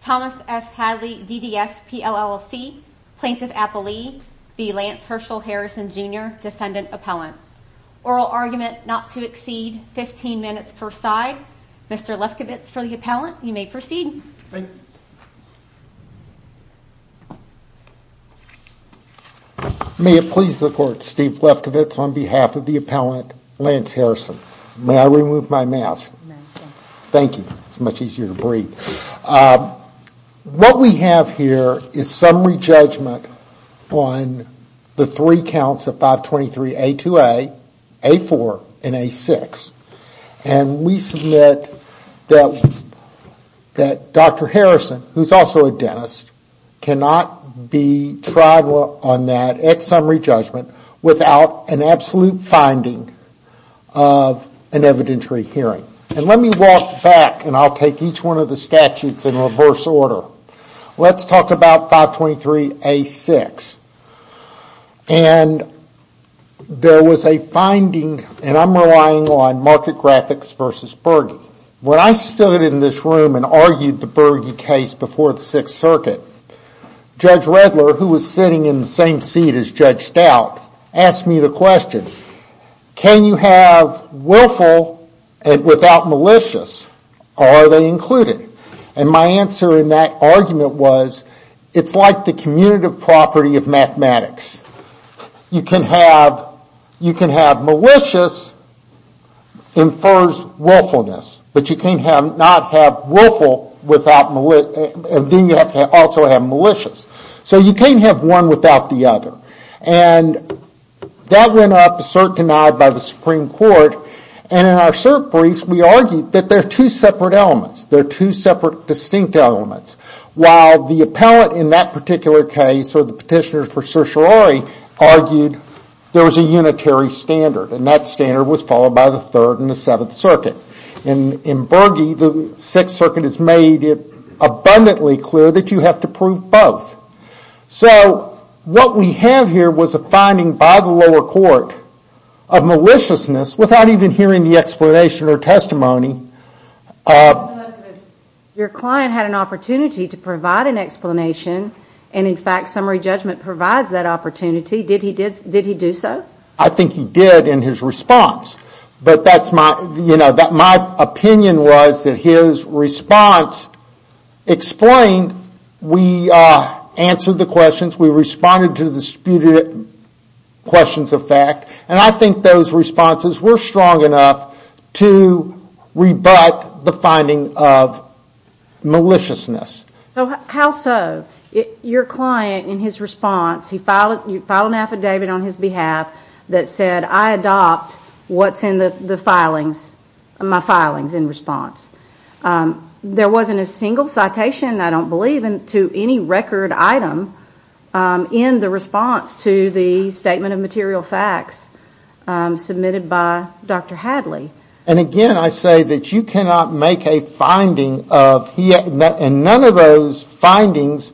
Thomas F. Hadley, DDS, PLLC Plaintiff Appellee be Lance Herschel Harrison Jr. Defendant Appellant Oral argument not to exceed 15 minutes per side. Mr. Lefkowitz for the appellant. You may proceed. Thank you. May it please the court. Steve Lefkowitz on behalf of the appellant Lance Harrison. May I remove my mask? Thank you. It's much easier to breathe. What we have here is summary judgment on the three counts of 523A2A, A4 and A6. And we submit that Dr. Harrison, who is also a dentist, cannot be tried on that at summary judgment without an absolute finding of an evidentiary hearing. And let me walk back and I'll take each one of the statutes in reverse order. Let's talk about 523A6. And there was a finding, and I'm relying on market graphics versus Berge. When I stood in this room and argued the Berge case before the Sixth Circuit, Judge Redler, who was sitting in the same seat as Judge Stout, asked me the question, can you have willful without malicious, or are they included? And my answer in that argument was, it's like the commutative property of mathematics. You can have malicious infers willfulness, but you cannot have willful without malicious. And then you have to also have malicious. So you can't have one without the other. And that went up assert denied by the Supreme Court. And in our cert briefs, we argued that there are two separate elements. There are two separate distinct elements. While the appellate in that particular case, or the petitioner for certiorari, argued there was a unitary standard. And that standard was followed by the Third and the Seventh Circuit. In Berge, the Sixth Circuit has made it abundantly clear that you have to prove both. So what we have here was a finding by the lower court of maliciousness without even hearing the explanation or testimony. Your client had an opportunity to provide an explanation, and in fact summary judgment provides that opportunity. Did he do so? I think he did in his response. But my opinion was that his response explained, we answered the questions, we responded to the disputed questions of fact. And I think those responses were strong enough to rebut the finding of maliciousness. So how so? Your client, in his response, he filed an affidavit on his behalf that said, I adopt what's in the filings, my filings in response. There wasn't a single citation, I don't believe, to any record item in the response to the statement of material facts submitted by Dr. Hadley. And again, I say that you cannot make a finding of, and none of those findings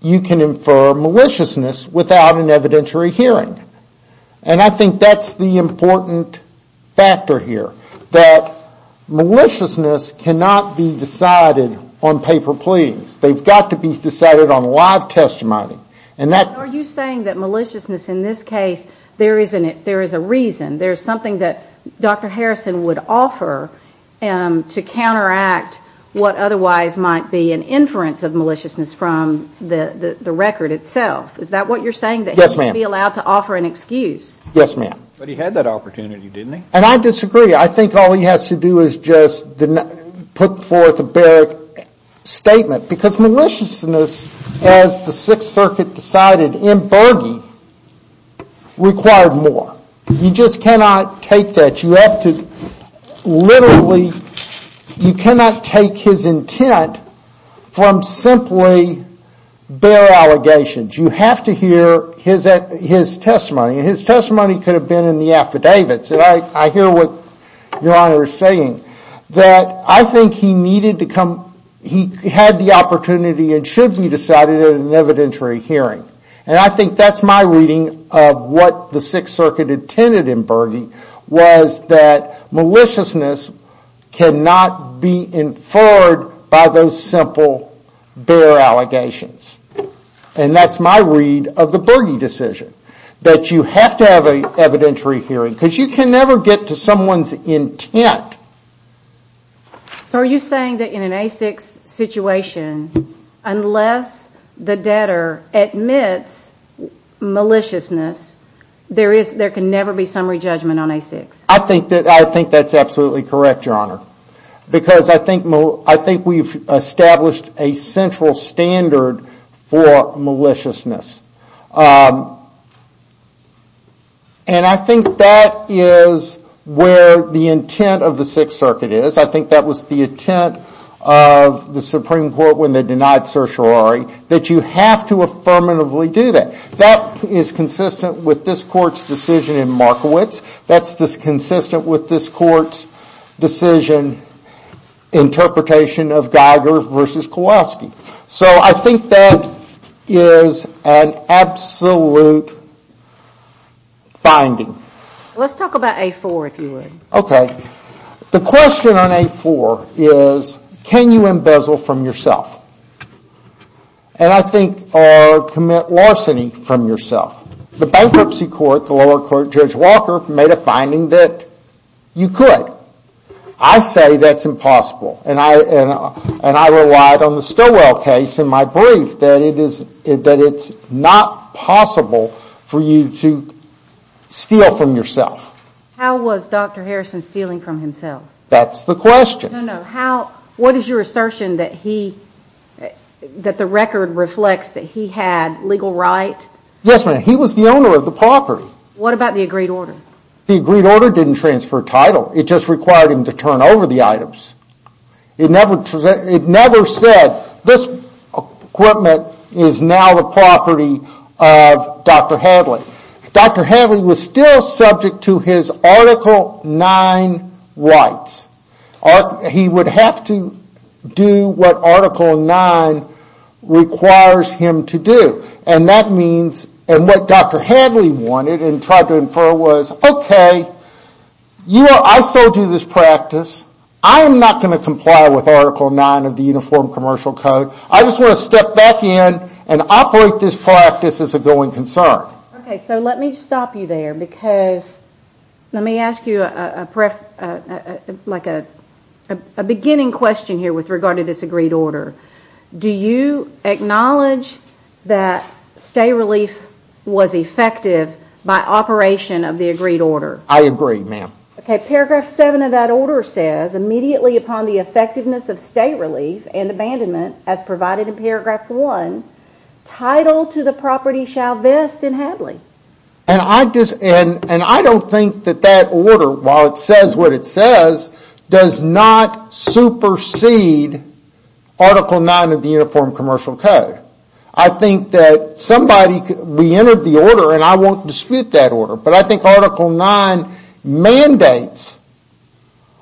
you can infer maliciousness without an evidentiary hearing. And I think that's the important factor here, that maliciousness cannot be decided on paper pleadings. They've got to be decided on live testimony. Are you saying that maliciousness in this case, there is a reason, there is something that Dr. Harrison would offer to counteract what otherwise might be an inference of maliciousness from the record itself? Is that what you're saying? Yes, ma'am. That he would be allowed to offer an excuse? Yes, ma'am. But he had that opportunity, didn't he? And I disagree. I think all he has to do is just put forth a bare statement. Because maliciousness, as the Sixth Circuit decided in Bergey, required more. You just cannot take that. You have to literally, you cannot take his intent from simply bare allegations. You have to hear his testimony. And his testimony could have been in the affidavits. And I hear what Your Honor is saying. That I think he needed to come, he had the opportunity and should be decided at an evidentiary hearing. And I think that's my reading of what the Sixth Circuit intended in Bergey, was that maliciousness cannot be inferred by those simple bare allegations. And that's my read of the Bergey decision. That you have to have an evidentiary hearing. Because you can never get to someone's intent. So are you saying that in an A6 situation, unless the debtor admits maliciousness, there can never be summary judgment on A6? Because I think we've established a central standard for maliciousness. And I think that is where the intent of the Sixth Circuit is. I think that was the intent of the Supreme Court when they denied certiorari. That you have to affirmatively do that. That is consistent with this Court's decision in Markowitz. That's consistent with this Court's decision, interpretation of Geiger versus Kowalski. So I think that is an absolute finding. Let's talk about A4 if you would. Okay. The question on A4 is, can you embezzle from yourself? And I think, or commit larceny from yourself. The bankruptcy court, the lower court, Judge Walker, made a finding that you could. I say that's impossible. And I relied on the Stilwell case in my brief that it's not possible for you to steal from yourself. How was Dr. Harrison stealing from himself? That's the question. No, no. What is your assertion that the record reflects that he had legal right? Yes, ma'am. He was the owner of the property. What about the agreed order? The agreed order didn't transfer title. It just required him to turn over the items. It never said, this equipment is now the property of Dr. Hadley. Dr. Hadley was still subject to his Article 9 rights. He would have to do what Article 9 requires him to do. And what Dr. Hadley wanted and tried to infer was, okay, I so do this practice. I am not going to comply with Article 9 of the Uniform Commercial Code. I just want to step back in and operate this practice as a going concern. Okay, so let me stop you there because let me ask you a beginning question here with regard to this agreed order. Do you acknowledge that stay relief was effective by operation of the agreed order? I agree, ma'am. Okay, paragraph 7 of that order says, immediately upon the effectiveness of stay relief and abandonment as provided in paragraph 1, title to the property shall vest in Hadley. And I don't think that that order, while it says what it says, does not supersede Article 9 of the Uniform Commercial Code. I think that somebody, we entered the order and I won't dispute that order, but I think Article 9 mandates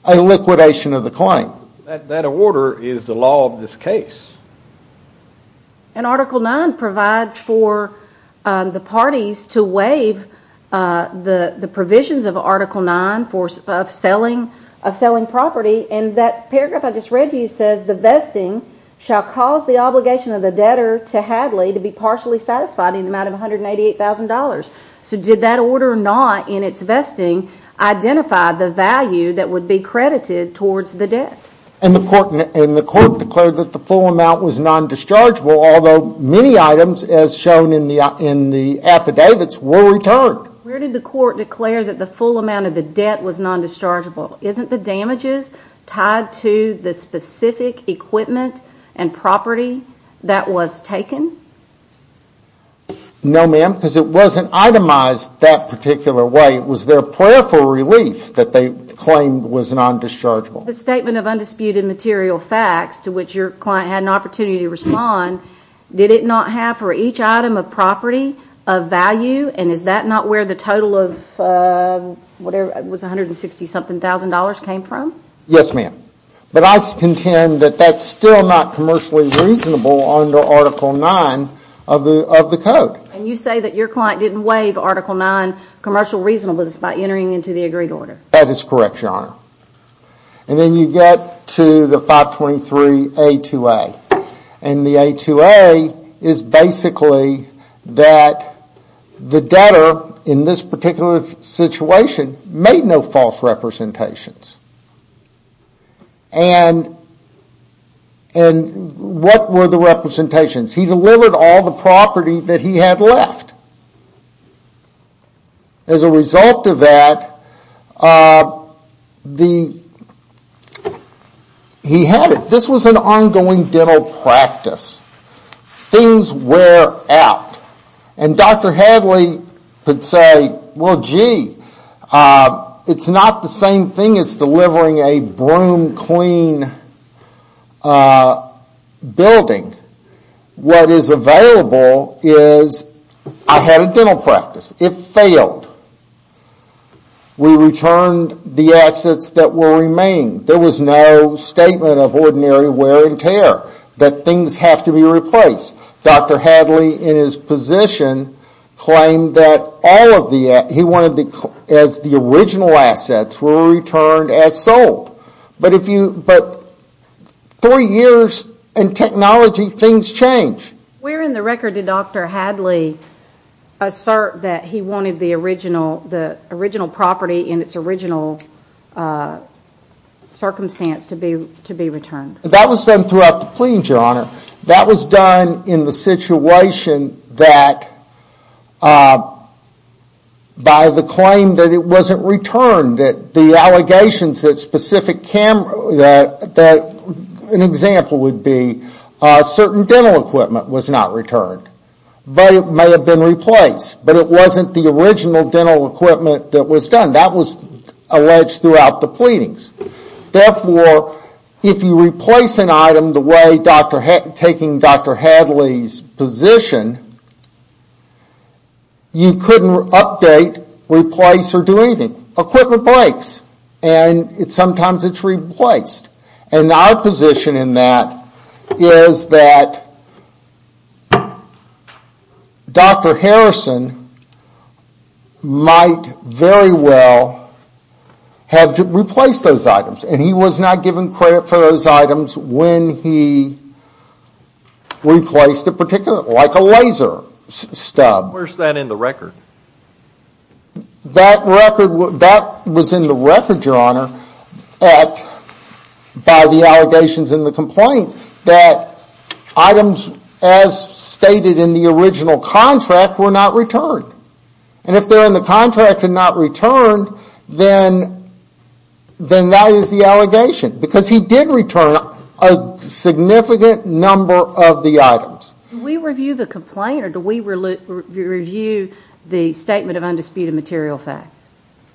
a liquidation of the claim. That order is the law of this case. And Article 9 provides for the parties to waive the provisions of Article 9 of selling property and that paragraph I just read to you says, the vesting shall cause the obligation of the debtor to Hadley to be partially satisfied in the amount of $188,000. So did that order not, in its vesting, identify the value that would be credited towards the debt? And the court declared that the full amount was non-dischargeable, although many items, as shown in the affidavits, were returned. Where did the court declare that the full amount of the debt was non-dischargeable? Isn't the damages tied to the specific equipment and property that was taken? No, ma'am, because it wasn't itemized that particular way. It was their prayer for relief that they claimed was non-dischargeable. The Statement of Undisputed Material Facts, to which your client had an opportunity to respond, did it not have for each item a property of value? And is that not where the total of $160,000 came from? Yes, ma'am. But I contend that that's still not commercially reasonable under Article 9 of the Code. And you say that your client didn't waive Article 9 commercial reasonableness by entering into the agreed order. That is correct, your Honor. And then you get to the 523A2A. And the A2A is basically that the debtor, in this particular situation, made no false representations. And what were the representations? He delivered all the property that he had left. As a result of that, he had it. This was an ongoing dental practice. Things wear out. And Dr. Hadley could say, well, gee, it's not the same thing as delivering a broom-clean building. What is available is, I had a dental practice. It failed. We returned the assets that were remaining. There was no statement of ordinary wear and tear. That things have to be replaced. Dr. Hadley, in his position, claimed that all of the... He wanted the original assets were returned as sold. But three years in technology, things change. Where in the record did Dr. Hadley assert that he wanted the original property in its original circumstance to be returned? That was done throughout the plea, your Honor. That was done in the situation that, by the claim that it wasn't returned, that the allegations that specific... An example would be certain dental equipment was not returned. But it may have been replaced. But it wasn't the original dental equipment that was done. That was alleged throughout the pleadings. Therefore, if you replace an item the way, taking Dr. Hadley's position, you couldn't update, replace, or do anything. Equipment breaks. And sometimes it's replaced. And our position in that is that Dr. Harrison might very well have replaced those items. And he was not given credit for those items when he replaced a particular... Like a laser stub. Where's that in the record? That record was in the record, your Honor, by the allegations in the complaint that items as stated in the original contract were not returned. And if they're in the contract and not returned, then that is the allegation. Because he did return a significant number of the items. Do we review the complaint or do we review the statement of undisputed material facts?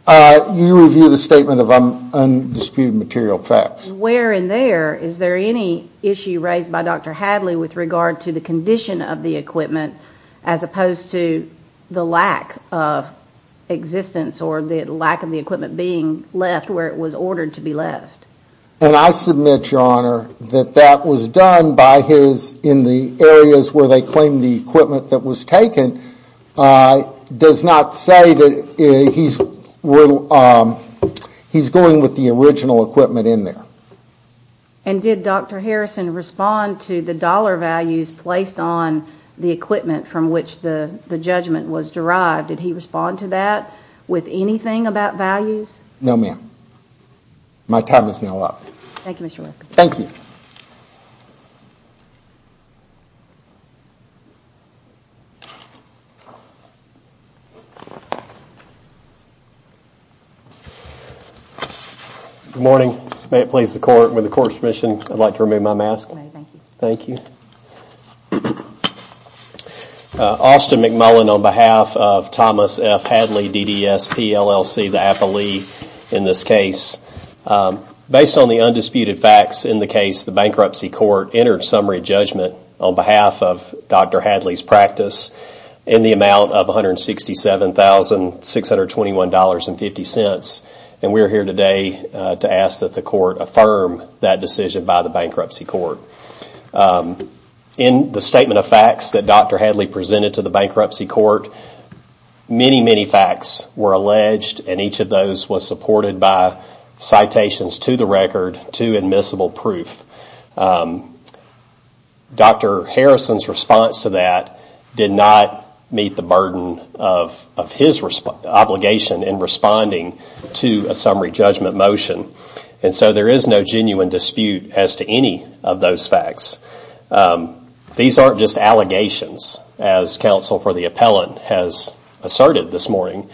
You review the statement of undisputed material facts. Where in there is there any issue raised by Dr. Hadley with regard to the condition of the equipment as opposed to the lack of existence or the lack of the equipment being left where it was ordered to be left? And I submit, your Honor, that that was done in the areas where they claimed the equipment that was taken. Does not say that he's going with the original equipment in there. And did Dr. Harrison respond to the dollar values placed on the equipment from which the judgment was derived? Did he respond to that with anything about values? No, ma'am. My time is now up. Thank you, Mr. Lefkowitz. Thank you. Good morning. May it please the Court. With the Court's permission, I'd like to remove my mask. Thank you. Austin McMullen on behalf of Thomas F. Hadley, DDS, PLLC, the appellee in this case. Based on the undisputed facts in the case, the Bankruptcy Court entered summary judgment on behalf of Dr. Hadley's practice in the amount of $167,621.50. And we're here today to ask that the Court affirm that decision by the Bankruptcy Court. In the statement of facts that Dr. Hadley presented to the Bankruptcy Court, many, many facts were alleged and each of those was supported by citations to the record to admissible proof. Dr. Harrison's response to that did not meet the burden of his obligation in responding to a summary judgment motion. And so there is no genuine dispute as to any of those facts. These aren't just allegations, as counsel for the appellant has asserted this morning.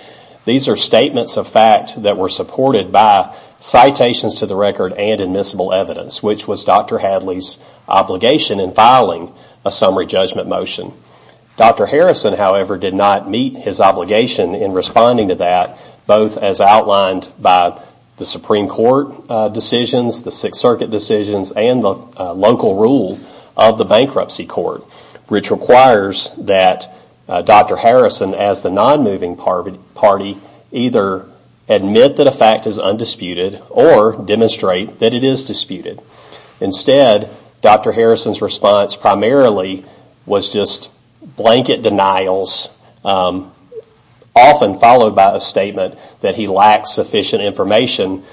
These are statements of fact that were supported by citations to the record and admissible evidence, which was Dr. Hadley's obligation in filing a summary judgment motion. Dr. Harrison, however, did not meet his obligation in responding to that, both as outlined by the Supreme Court decisions, the Sixth Circuit decisions, and the local rule of the Bankruptcy Court, which requires that Dr. Harrison, as the non-moving party, either admit that a fact is undisputed or demonstrate that it is disputed. Instead, Dr. Harrison's response primarily was just blanket denials, often followed by a statement that he lacks sufficient information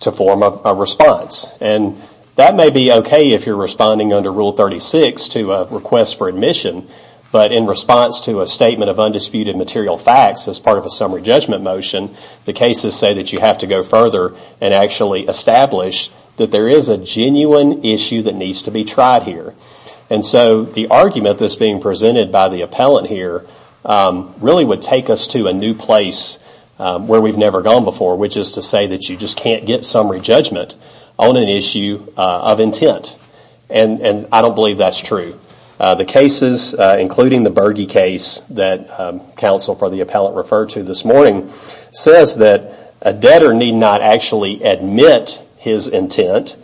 to form a response. And that may be okay if you're responding under Rule 36 to a request for admission, but in response to a statement of undisputed material facts as part of a summary judgment motion, the cases say that you have to go further and actually establish that there is a genuine issue that needs to be tried here. And so the argument that's being presented by the appellant here really would take us to a new place where we've never gone before, which is to say that you just can't get summary judgment on an issue of intent. And I don't believe that's true. The cases, including the Berge case that counsel for the appellant referred to this morning, says that a debtor need not actually admit his intent.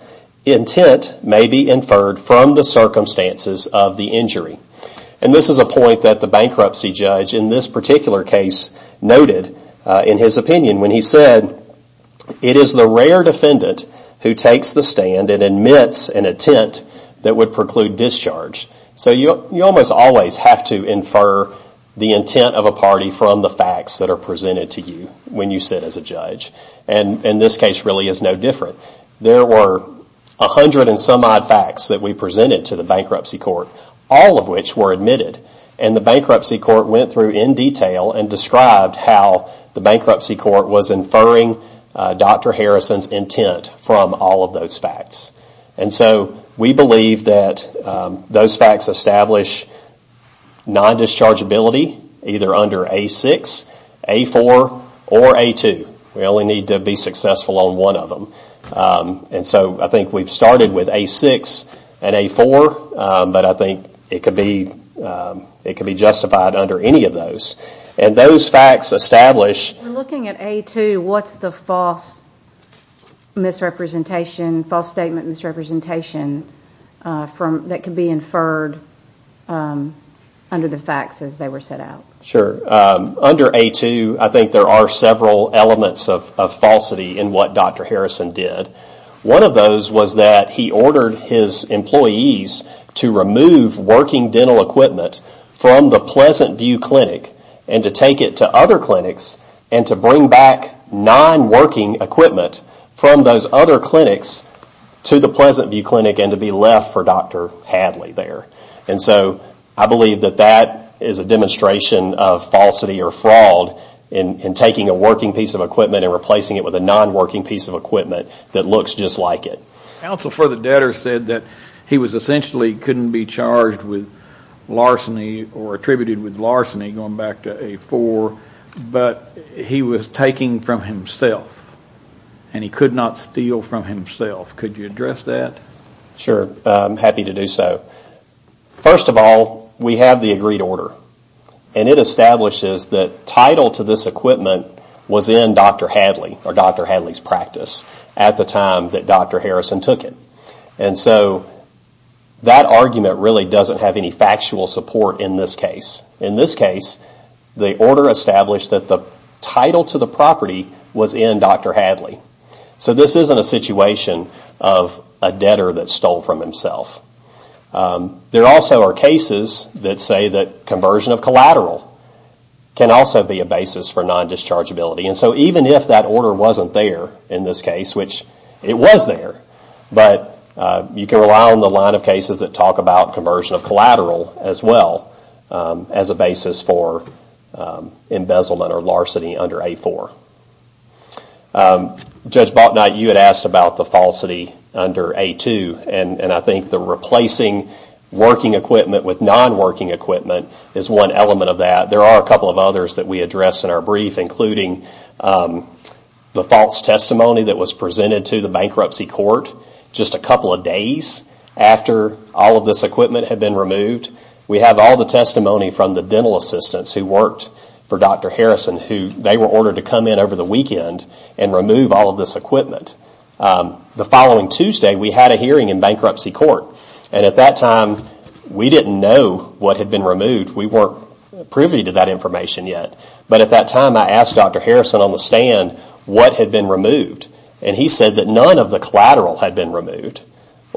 Intent may be inferred from the circumstances of the injury. And this is a point that the bankruptcy judge in this particular case noted in his opinion when he said, it is the rare defendant who takes the stand and admits an intent that would preclude discharge. So you almost always have to infer the intent of a party from the facts that are presented to you when you sit as a judge. And this case really is no different. There were a hundred and some odd facts that we presented to the bankruptcy court, all of which were admitted. And the bankruptcy court went through in detail and described how the bankruptcy court was inferring Dr. Harrison's intent from all of those facts. And so we believe that those facts establish non-discharge ability either under A-6, A-4, or A-2. We only need to be successful on one of them. And so I think we've started with A-6 and A-4, but I think it could be justified under any of those. And those facts establish... Looking at A-2, what's the false misrepresentation, false statement misrepresentation that could be inferred under the facts as they were set out? Sure. Under A-2, I think there are several elements of falsity in what Dr. Harrison did. One of those was that he ordered his employees to remove working dental equipment from the Pleasant View Clinic and to take it to other clinics and to bring back non-working equipment from those other clinics to the Pleasant View Clinic and to be left for Dr. Hadley there. And so I believe that that is a demonstration of falsity or fraud in taking a working piece of equipment and replacing it with a non-working piece of equipment that looks just like it. Counsel for the debtor said that he was essentially couldn't be charged with larceny or attributed with larceny going back to A-4, but he was taking from himself and he could not steal from himself. Could you address that? Sure. I'm happy to do so. First of all, we have the agreed order. And it establishes that title to this equipment was in Dr. Hadley or Dr. Hadley's practice at the time that Dr. Harrison took it. And so that argument really doesn't have any factual support in this case. In this case, the order established that the title to the property was in Dr. Hadley. So this isn't a situation of a debtor that stole from himself. There also are cases that say that conversion of collateral can also be a basis for non-dischargeability. And so even if that order wasn't there in this case, which it was there, but you can rely on the line of cases that talk about conversion of collateral as well as a basis for embezzlement or larceny under A-4. Judge Balknight, you had asked about the falsity under A-2. And I think the replacing working equipment with non-working equipment is one element of that. There are a couple of others that we addressed in our brief, including the false testimony that was presented to the bankruptcy court just a couple of days after all of this equipment had been removed. We have all the testimony from the dental assistants who worked for Dr. Harrison. They were ordered to come in over the weekend and remove all of this equipment. The following Tuesday, we had a hearing in bankruptcy court. And at that time, we didn't know what had been removed. We weren't privy to that information yet. But at that time, I asked Dr. Harrison on the stand what had been removed. And he said that none of the collateral had been removed.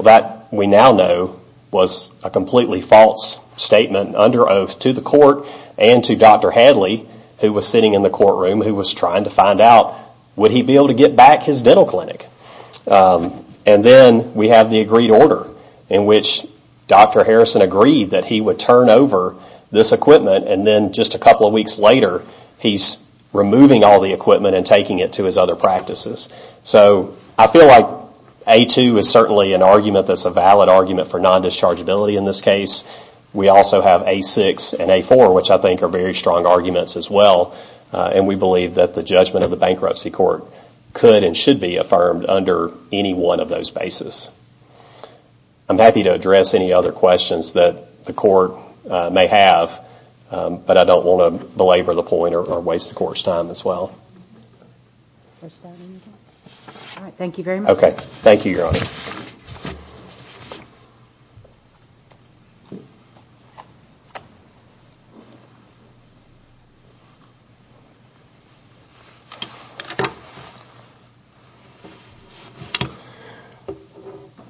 That, we now know, was a completely false statement under oath to the court and to Dr. Hadley, who was sitting in the courtroom who was trying to find out, would he be able to get back his dental clinic? And then we have the agreed order in which Dr. Harrison agreed that he would turn over this equipment. And then just a couple of weeks later, he's removing all the equipment and taking it to his other practices. So I feel like A-2 is certainly an argument that's a valid argument for non-dischargeability in this case. We also have A-6 and A-4, which I think are very strong arguments as well. And we believe that the judgment of the bankruptcy court could and should be affirmed under any one of those basis. I'm happy to address any other questions that the court may have. But I don't want to belabor the point or waste the court's time as well. All right. Thank you very much. Okay. Thank you, Your Honor.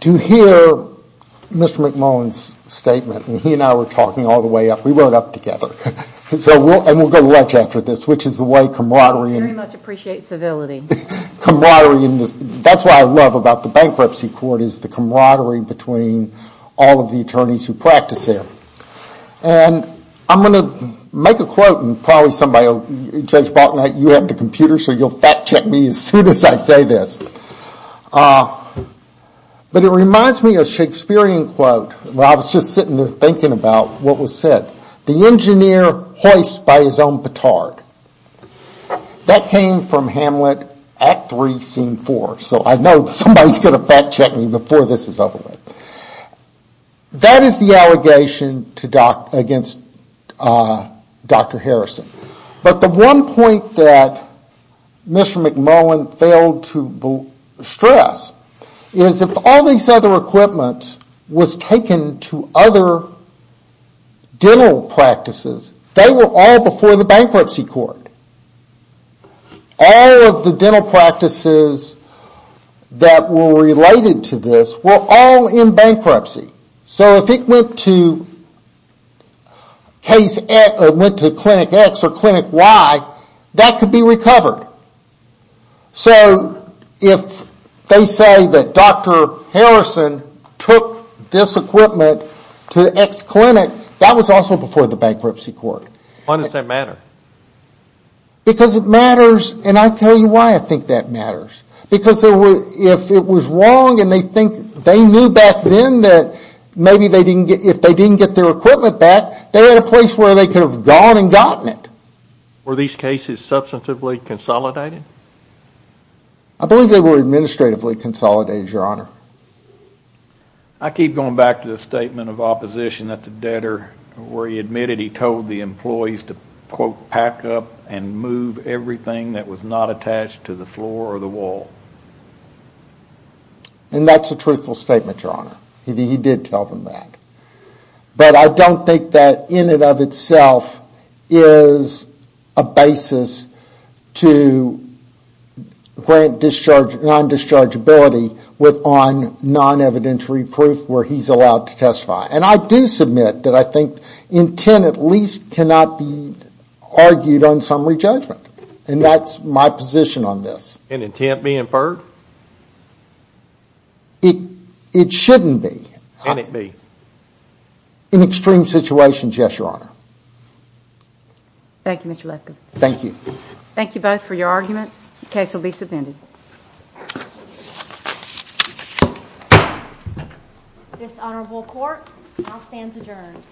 To hear Mr. McMullen's statement, and he and I were talking all the way up, we weren't up together. And we'll go to lunch after this, which is the way camaraderie. I very much appreciate civility. Camaraderie. That's what I love about the bankruptcy court is the camaraderie between all of the attorneys who practice there. And I'm going to make a quote, and probably somebody, Judge Balton, you have the computer, so you'll fact-check me as soon as I say this. But it reminds me of a Shakespearean quote when I was just sitting there thinking about what was said. The engineer hoist by his own petard. That came from Hamlet Act 3, Scene 4. So I know somebody's going to fact-check me before this is over with. That is the allegation against Dr. Harrison. But the one point that Mr. McMullen failed to stress is that all these other equipment was taken to other dental practices. They were all before the bankruptcy court. All of the dental practices that were related to this were all in bankruptcy. So if it went to Clinic X or Clinic Y, that could be recovered. So if they say that Dr. Harrison took this equipment to X clinic, that was also before the bankruptcy court. Why does that matter? Because it matters, and I'll tell you why I think that matters. Because if it was wrong and they knew back then that maybe if they didn't get their equipment back, they had a place where they could have gone and gotten it. Were these cases substantively consolidated? I believe they were administratively consolidated, Your Honor. I keep going back to the statement of opposition that the debtor, where he admitted he told the employees to, quote, back up and move everything that was not attached to the floor or the wall. And that's a truthful statement, Your Honor. He did tell them that. But I don't think that in and of itself is a basis to grant non-dischargeability on non-evidentiary proof where he's allowed to testify. And I do submit that I think intent at least cannot be argued on summary judgment. And that's my position on this. And intent be inferred? It shouldn't be. Can it be? In extreme situations, yes, Your Honor. Thank you, Mr. Lefkowitz. Thank you both for your arguments. The case will be submitted. This honorable court now stands adjourned.